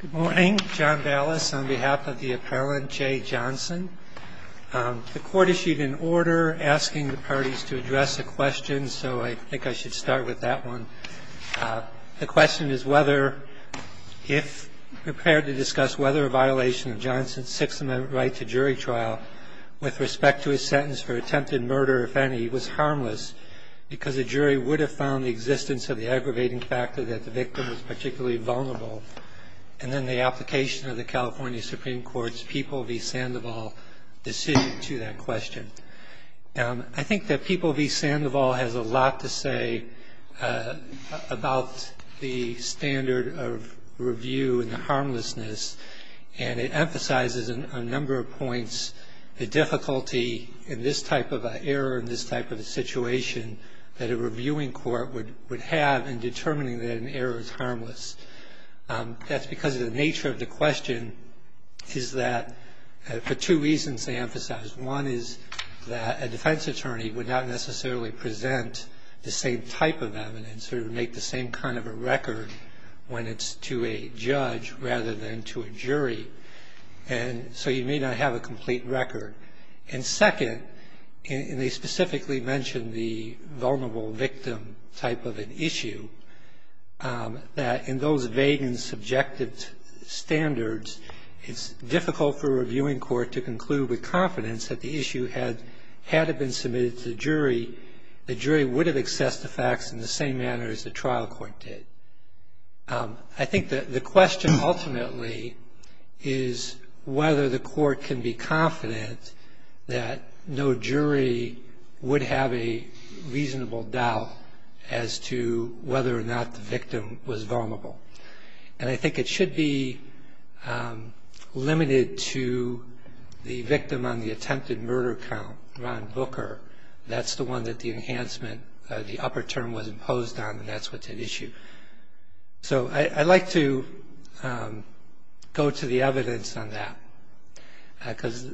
Good morning, John Ballas on behalf of the appellant, Jay Johnson. The court issued an order asking the parties to address a question, so I think I should start with that one. The question is whether, if prepared to discuss whether a violation of Johnson's Sixth Amendment right to jury trial with respect to his sentence for attempted murder, if any, was harmless, because a jury would have found the existence of the aggravating factor that the victim was particularly vulnerable, and then the application of the California Supreme Court's People v. Sandoval decision to that question. I think that People v. Sandoval has a lot to say about the standard of review and the harmlessness, and it emphasizes on a number of points the difficulty in this type of an error in this type of a situation that a reviewing court would have in determining that an error is harmless. That's because of the nature of the question is that for two reasons they emphasize. One is that a defense attorney would not necessarily present the same type of evidence or make the same kind of a record when it's to a judge rather than to a jury, and so you may not have a complete record. And second, and they specifically mention the vulnerable victim type of an issue, that in those vague and subjective standards it's difficult for a reviewing court to conclude with confidence that the issue had had it been submitted to the jury, the jury would have accessed the facts in the same manner as the trial court did. I think that the question ultimately is whether the court can be confident that no jury would have a reasonable doubt as to whether or not the victim was vulnerable. And I think it should be limited to the victim on the attempted murder count, Ron Booker. That's the one that the enhancement, the upper term was imposed on, and that's what's at issue. So I'd like to go to the evidence on that because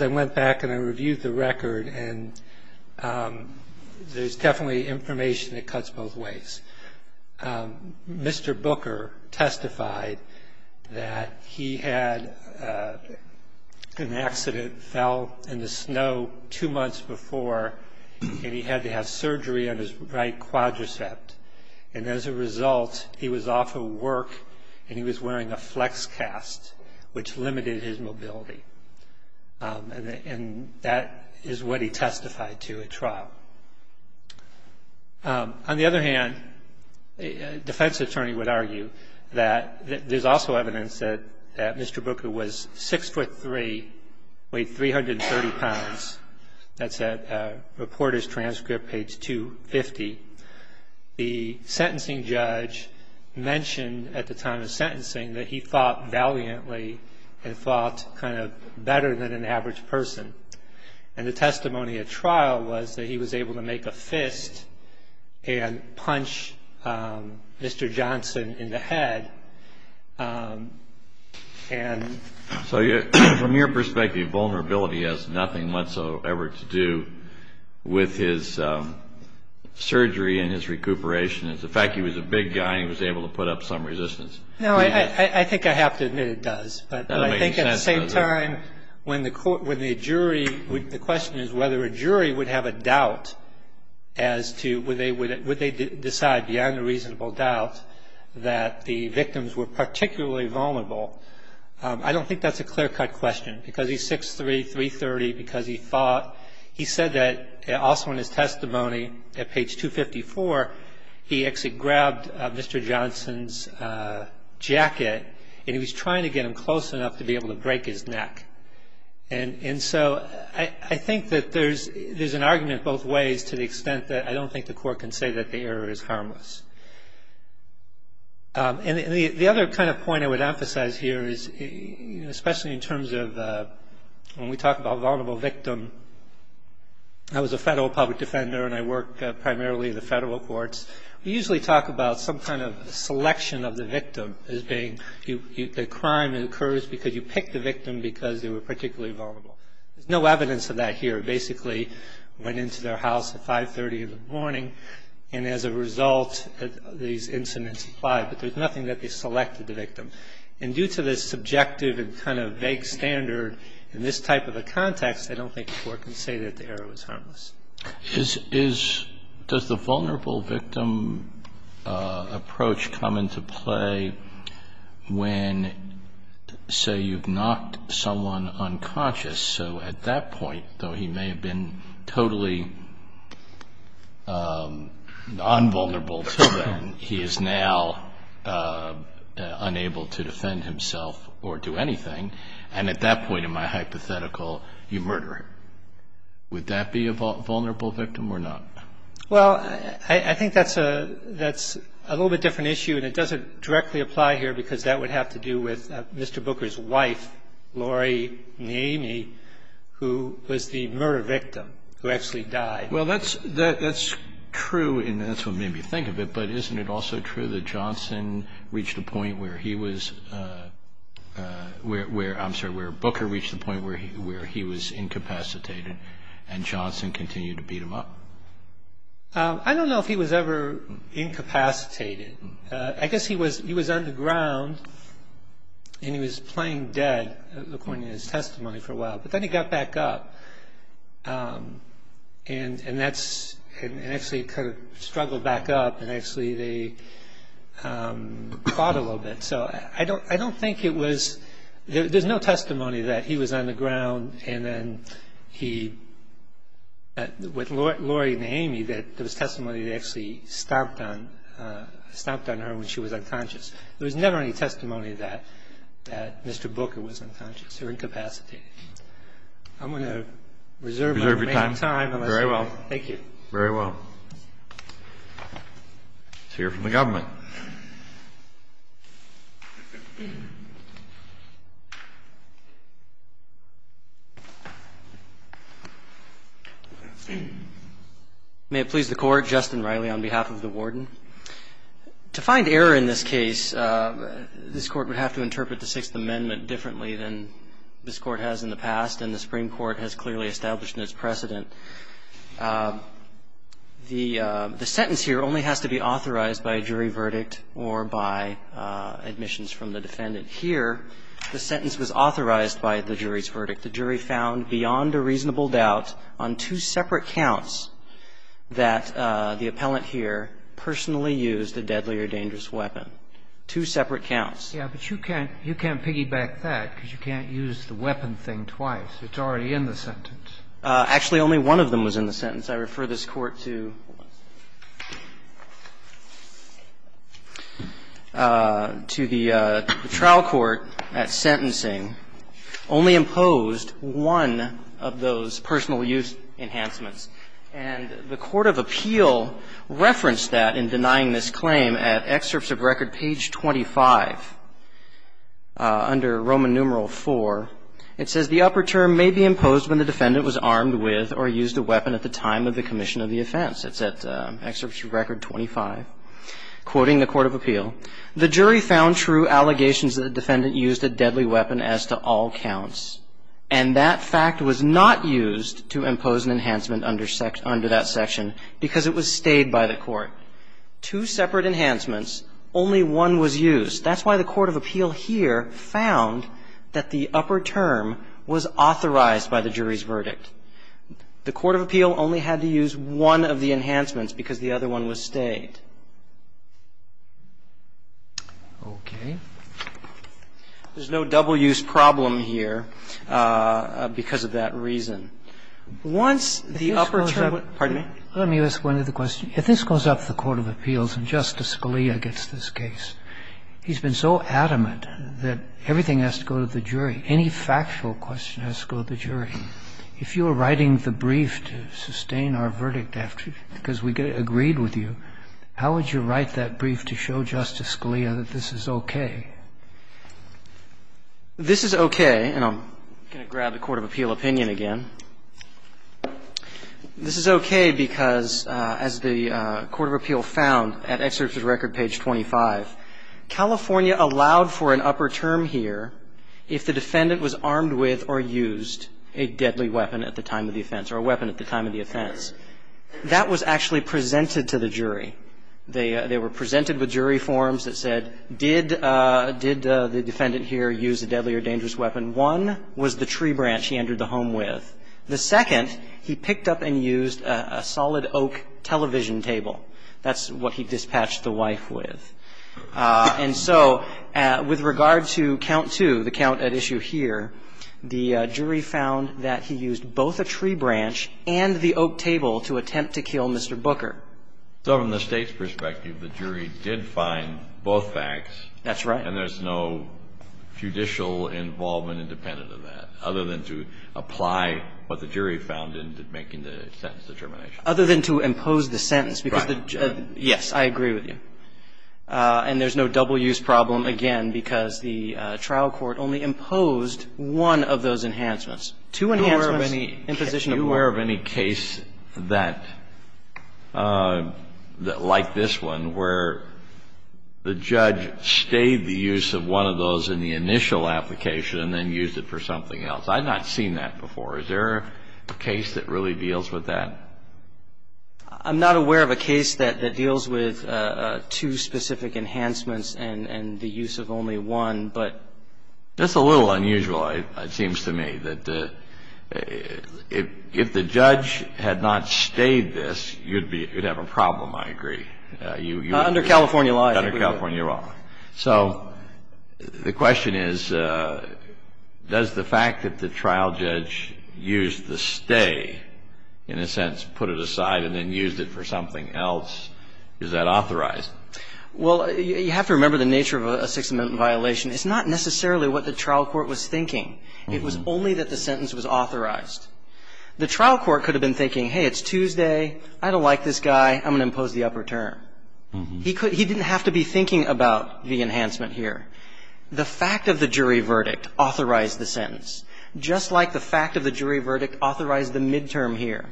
I went back and I reviewed the record and there's definitely information that cuts both ways. Mr. Booker testified that he had an accident, fell in the snow two months before, and he had to have surgery on his right quadriceps. And as a result, he was off of work and he was wearing a flex cast, which limited his mobility. And that is what he testified to at trial. On the other hand, a defense attorney would argue that there's also evidence that Mr. Booker was 6'3", weighed 330 pounds. That's at Reporter's Transcript, page 250. The sentencing judge mentioned at the time of sentencing that he thought valiantly and thought kind of better than an average person. And the testimony at trial was that he was able to make a fist and punch Mr. Johnson in the head. So from your perspective, vulnerability has nothing whatsoever to do with his surgery and his recuperation. As a fact, he was a big guy and he was able to put up some resistance. No, I think I have to admit it does. But I think at the same time, when the jury, the question is whether a jury would have a doubt as to would they decide beyond a reasonable doubt that the victims were particularly vulnerable. I don't think that's a clear-cut question, because he's 6'3", 330, because he thought. He said that also in his testimony at page 254, he actually grabbed Mr. Johnson's jacket and he was trying to get him close enough to be able to break his neck. And so I think that there's an argument both ways to the extent that I don't think the court can say that the error is harmless. And the other kind of point I would emphasize here is, especially in terms of when we talk about vulnerable victim. I was a federal public defender and I work primarily in the federal courts. We usually talk about some kind of selection of the victim as being the crime that occurs because you pick the victim because they were particularly vulnerable. There's no evidence of that here. It basically went into their house at 5.30 in the morning and as a result, these incidents applied. But there's nothing that they selected the victim. And due to the subjective and kind of vague standard in this type of a context, Does the vulnerable victim approach come into play when, say, you've knocked someone unconscious? So at that point, though he may have been totally non-vulnerable to that, he is now unable to defend himself or do anything. And at that point in my hypothetical, you murder him. Would that be a vulnerable victim or not? Well, I think that's a little bit different issue and it doesn't directly apply here because that would have to do with Mr. Booker's wife, Laurie Namy, who was the murder victim, who actually died. Well, that's true and that's what made me think of it, but isn't it also true that Johnson reached a point where he was, I'm sorry, where Booker reached a point where he was incapacitated and Johnson continued to beat him up? I don't know if he was ever incapacitated. I guess he was underground and he was playing dead, according to his testimony, for a while. But then he got back up and actually kind of struggled back up and actually they fought a little bit. So I don't think it was, there's no testimony that he was on the ground and then he, with Laurie Namy, that there was testimony that actually stomped on her when she was unconscious. There was never any testimony that Mr. Booker was unconscious or incapacitated. I'm going to reserve my remaining time. Reserve your time. Very well. Thank you. Very well. Let's hear from the government. May it please the Court. Justin Riley on behalf of the Warden. To find error in this case, this Court would have to interpret the Sixth Amendment differently than this Court has in the past and the Supreme Court has clearly established in its precedent. The sentence here only has to be authorized by a jury verdict or by admissions from the defendant. Here, the sentence was authorized by the jury's verdict. The jury found beyond a reasonable doubt on two separate counts that the appellant here personally used a deadly or dangerous weapon. Two separate counts. Yes, but you can't piggyback that because you can't use the weapon thing twice. It's already in the sentence. Actually, only one of them was in the sentence. I refer this Court to the trial court at sentencing. Only imposed one of those personal use enhancements. And the court of appeal referenced that in denying this claim at excerpts of record page 25 under Roman numeral IV. It says the upper term may be imposed when the defendant was armed with or used a weapon at the time of the commission of the offense. It's at excerpts of record 25. Quoting the court of appeal, the jury found true allegations that the defendant used a deadly weapon as to all counts. And that fact was not used to impose an enhancement under that section because it was stayed by the court. Two separate enhancements. Only one was used. That's why the court of appeal here found that the upper term was authorized by the jury's verdict. The court of appeal only had to use one of the enhancements because the other one was stayed. Okay. There's no double-use problem here because of that reason. Once the upper term was used. Let me ask one other question. If this goes up to the court of appeals and Justice Scalia gets this case, he's been so adamant that everything has to go to the jury. Any factual question has to go to the jury. If you were writing the brief to sustain our verdict because we agreed with you, how would you write that brief to show Justice Scalia that this is okay? This is okay. And I'm going to grab the court of appeal opinion again. This is okay because as the court of appeal found at excerpt of record page 25, California allowed for an upper term here if the defendant was armed with or used a deadly weapon at the time of the offense or a weapon at the time of the offense. That was actually presented to the jury. They were presented with jury forms that said, did the defendant here use a deadly or dangerous weapon? One was the tree branch he entered the home with. The second, he picked up and used a solid oak television table. That's what he dispatched the wife with. And so with regard to count two, the count at issue here, the jury found that he used both a tree branch and the oak table to attempt to kill Mr. Booker. So from the State's perspective, the jury did find both facts. That's right. And there's no judicial involvement independent of that, other than to apply what the jury found in making the sentence determination. Other than to impose the sentence. Right. Yes, I agree with you. And there's no double-use problem, again, because the trial court only imposed Two enhancements in position of one. I'm not aware of any case that, like this one, where the judge stayed the use of one of those in the initial application and then used it for something else. I've not seen that before. Is there a case that really deals with that? I'm not aware of a case that deals with two specific enhancements and the use of only one. That's a little unusual, it seems to me. If the judge had not stayed this, you'd have a problem, I agree. Under California law, I agree. Under California law. So the question is, does the fact that the trial judge used the stay, in a sense, put it aside and then used it for something else, is that authorized? Well, you have to remember the nature of a Sixth Amendment violation. It's not necessarily what the trial court was thinking. It was only that the sentence was authorized. The trial court could have been thinking, hey, it's Tuesday, I don't like this guy, I'm going to impose the upper term. He didn't have to be thinking about the enhancement here. The fact of the jury verdict authorized the sentence, just like the fact of the jury verdict authorized the midterm here.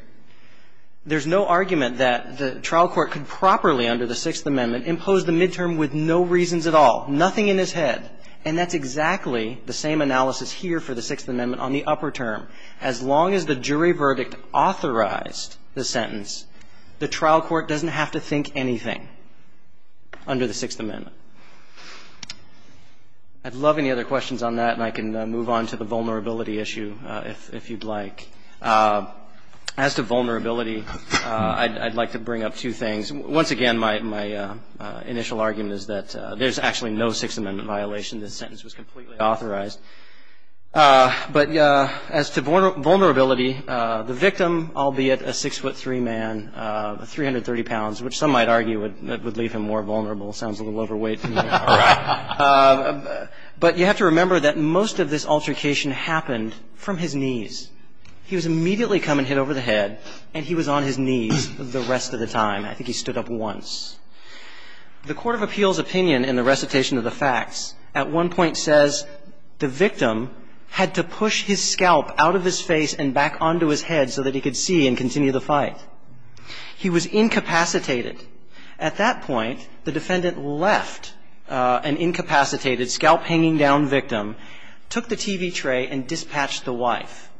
There's no argument that the trial court could properly, under the Sixth Amendment, impose the midterm with no reasons at all, nothing in his head. And that's exactly the same analysis here for the Sixth Amendment on the upper term. As long as the jury verdict authorized the sentence, the trial court doesn't have to think anything under the Sixth Amendment. I'd love any other questions on that, and I can move on to the vulnerability issue if you'd like. As to vulnerability, I'd like to bring up two things. Once again, my initial argument is that there's actually no Sixth Amendment violation. The sentence was completely authorized. But as to vulnerability, the victim, albeit a 6'3 man, 330 pounds, which some might argue would leave him more vulnerable, sounds a little overweight to me. But you have to remember that most of this altercation happened from his knees. He was immediately come and hit over the head, and he was on his knees the rest of the time. I think he stood up once. The court of appeals opinion in the recitation of the facts at one point says the victim had to push his scalp out of his face and back onto his head so that he could see and continue the fight. He was incapacitated. At that point, the defendant left an incapacitated, scalp-hanging-down victim, took the TV tray, and dispatched the wife.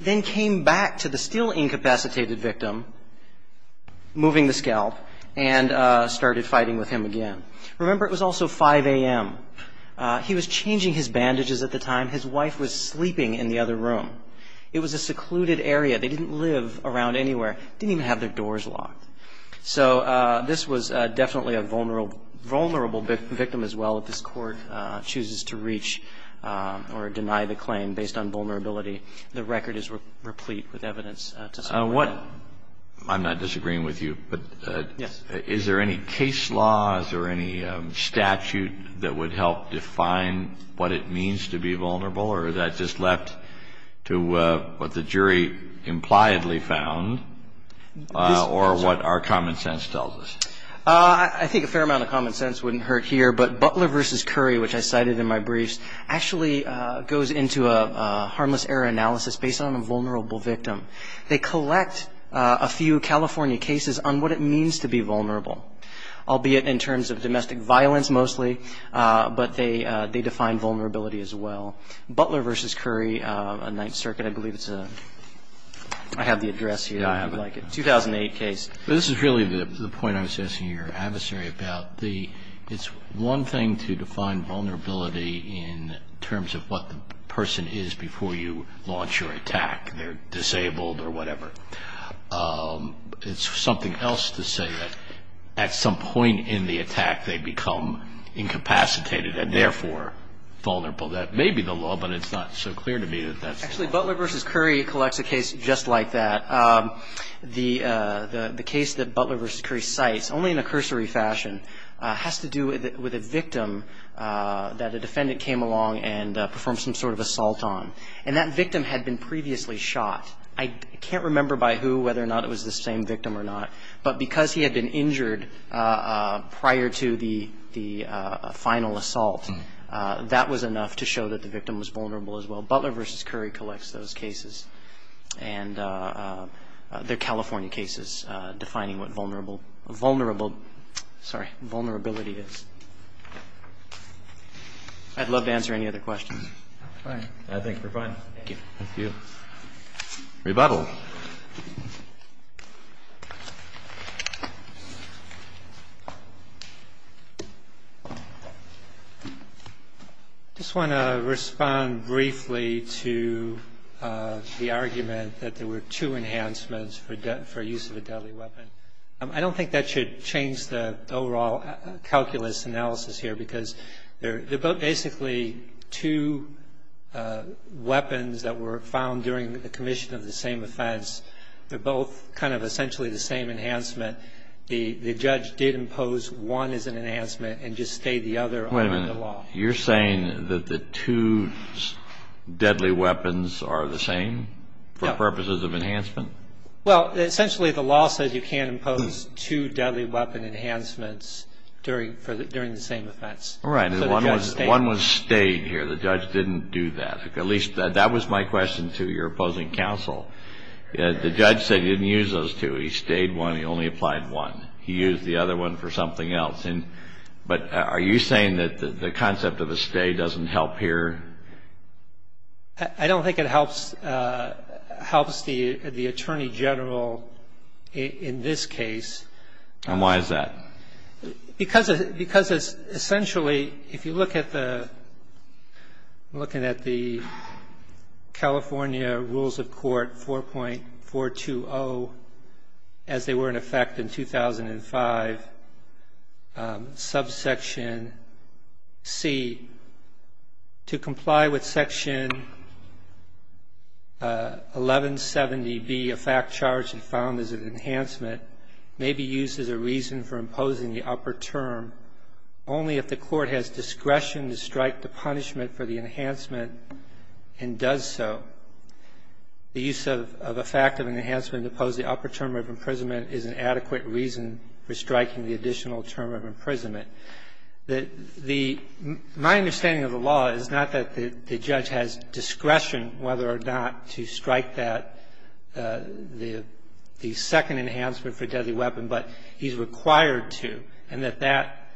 Then came back to the still incapacitated victim, moving the scalp, and started fighting with him again. Remember, it was also 5 a.m. He was changing his bandages at the time. His wife was sleeping in the other room. It was a secluded area. They didn't live around anywhere. Didn't even have their doors locked. So this was definitely a vulnerable victim as well. If this Court chooses to reach or deny the claim based on vulnerability, the record is replete with evidence to support that. I'm not disagreeing with you. Yes. Is there any case laws or any statute that would help define what it means to be vulnerable, or is that just left to what the jury impliedly found? Or what our common sense tells us? I think a fair amount of common sense wouldn't hurt here, but Butler v. Curry, which I cited in my briefs, actually goes into a harmless error analysis based on a vulnerable victim. They collect a few California cases on what it means to be vulnerable, albeit in terms of domestic violence mostly, but they define vulnerability as well. Butler v. Curry, a Ninth Circuit, I believe it's a, I have the address here if you'd like it, 2008 case. This is really the point I was asking your adversary about. It's one thing to define vulnerability in terms of what the person is before you launch your attack. They're disabled or whatever. It's something else to say that at some point in the attack, they become incapacitated and therefore vulnerable. That may be the law, but it's not so clear to me that that's the law. Actually, Butler v. Curry collects a case just like that. The case that Butler v. Curry cites, only in a cursory fashion, has to do with a victim that a defendant came along and performed some sort of assault on. And that victim had been previously shot. I can't remember by who, whether or not it was the same victim or not, but because he had been injured prior to the final assault, that was enough to show that the victim was vulnerable as well. Butler v. Curry collects those cases. And they're California cases, defining what vulnerability is. I'd love to answer any other questions. All right. I think we're fine. Thank you. Thank you. Rebuttal. I just want to respond briefly to the argument that there were two enhancements for use of a deadly weapon. I don't think that should change the overall calculus analysis here, because they're both basically two weapons that were found during the commission of the same offense. They're both kind of essentially the same enhancement. The judge did impose one as an enhancement and just stayed the other under the law. You're saying that the two deadly weapons are the same for purposes of enhancement? Well, essentially the law says you can't impose two deadly weapon enhancements during the same offense. Right. One was stayed here. The judge didn't do that. At least that was my question to your opposing counsel. The judge said he didn't use those two. He stayed one. He only applied one. He used the other one for something else. But are you saying that the concept of a stay doesn't help here? I don't think it helps the attorney general in this case. And why is that? Because essentially if you look at the California Rules of Court 4.420, as they were in effect in 2005, subsection C, to comply with section 1170B, a fact charge found as an enhancement, may be used as a reason for imposing the upper term only if the court has discretion to strike the punishment for the enhancement and does so. The use of a fact of an enhancement to impose the upper term of imprisonment is an adequate reason for striking the additional term of imprisonment. My understanding of the law is not that the judge has discretion whether or not to strike that. He's not required to. He's not required to strike the second enhancement for a deadly weapon, but he's required to and that that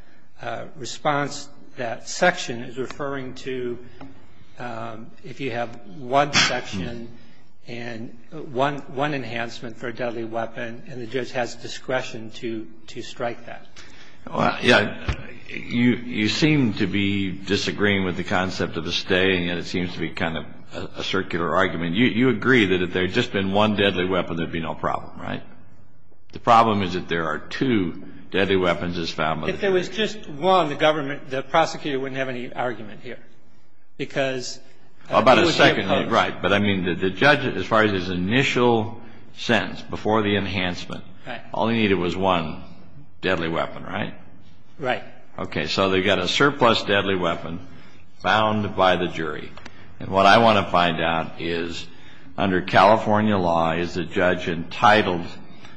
response, that section, is referring to if you have one section and one enhancement for a deadly weapon and the judge has discretion to strike that. Well, yeah. You seem to be disagreeing with the concept of a stay, and yet it seems to be kind of a circular argument. You agree that if there had just been one deadly weapon, there would be no problem, right? The problem is that there are two deadly weapons as found by the judge. If there was just one, the government, the prosecutor wouldn't have any argument here because Well, about a second. Right. But I mean, the judge, as far as his initial sentence before the enhancement, all he needed was one deadly weapon, right? Right. Okay. So they've got a surplus deadly weapon found by the jury. And what I want to find out is under California law, is the judge entitled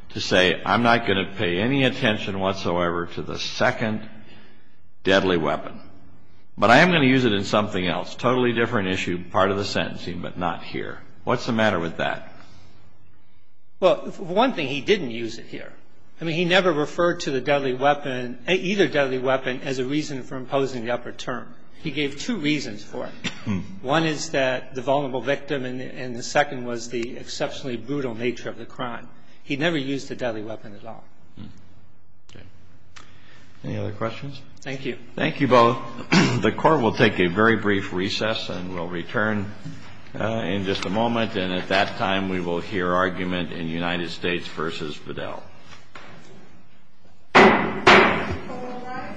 to say, I'm not going to pay any attention whatsoever to the second deadly weapon, but I am going to use it in something else, totally different issue, part of the sentencing, but not here. What's the matter with that? Well, one thing, he didn't use it here. I mean, he never referred to the deadly weapon, either deadly weapon, as a reason for imposing the upper term. He gave two reasons for it. One is that the vulnerable victim and the second was the exceptionally brutal nature of the crime. He never used the deadly weapon at all. Okay. Any other questions? Thank you. Thank you both. The Court will take a very brief recess and we'll return in just a moment. And at that time, we will hear argument in United States v. Fidel. Thank you.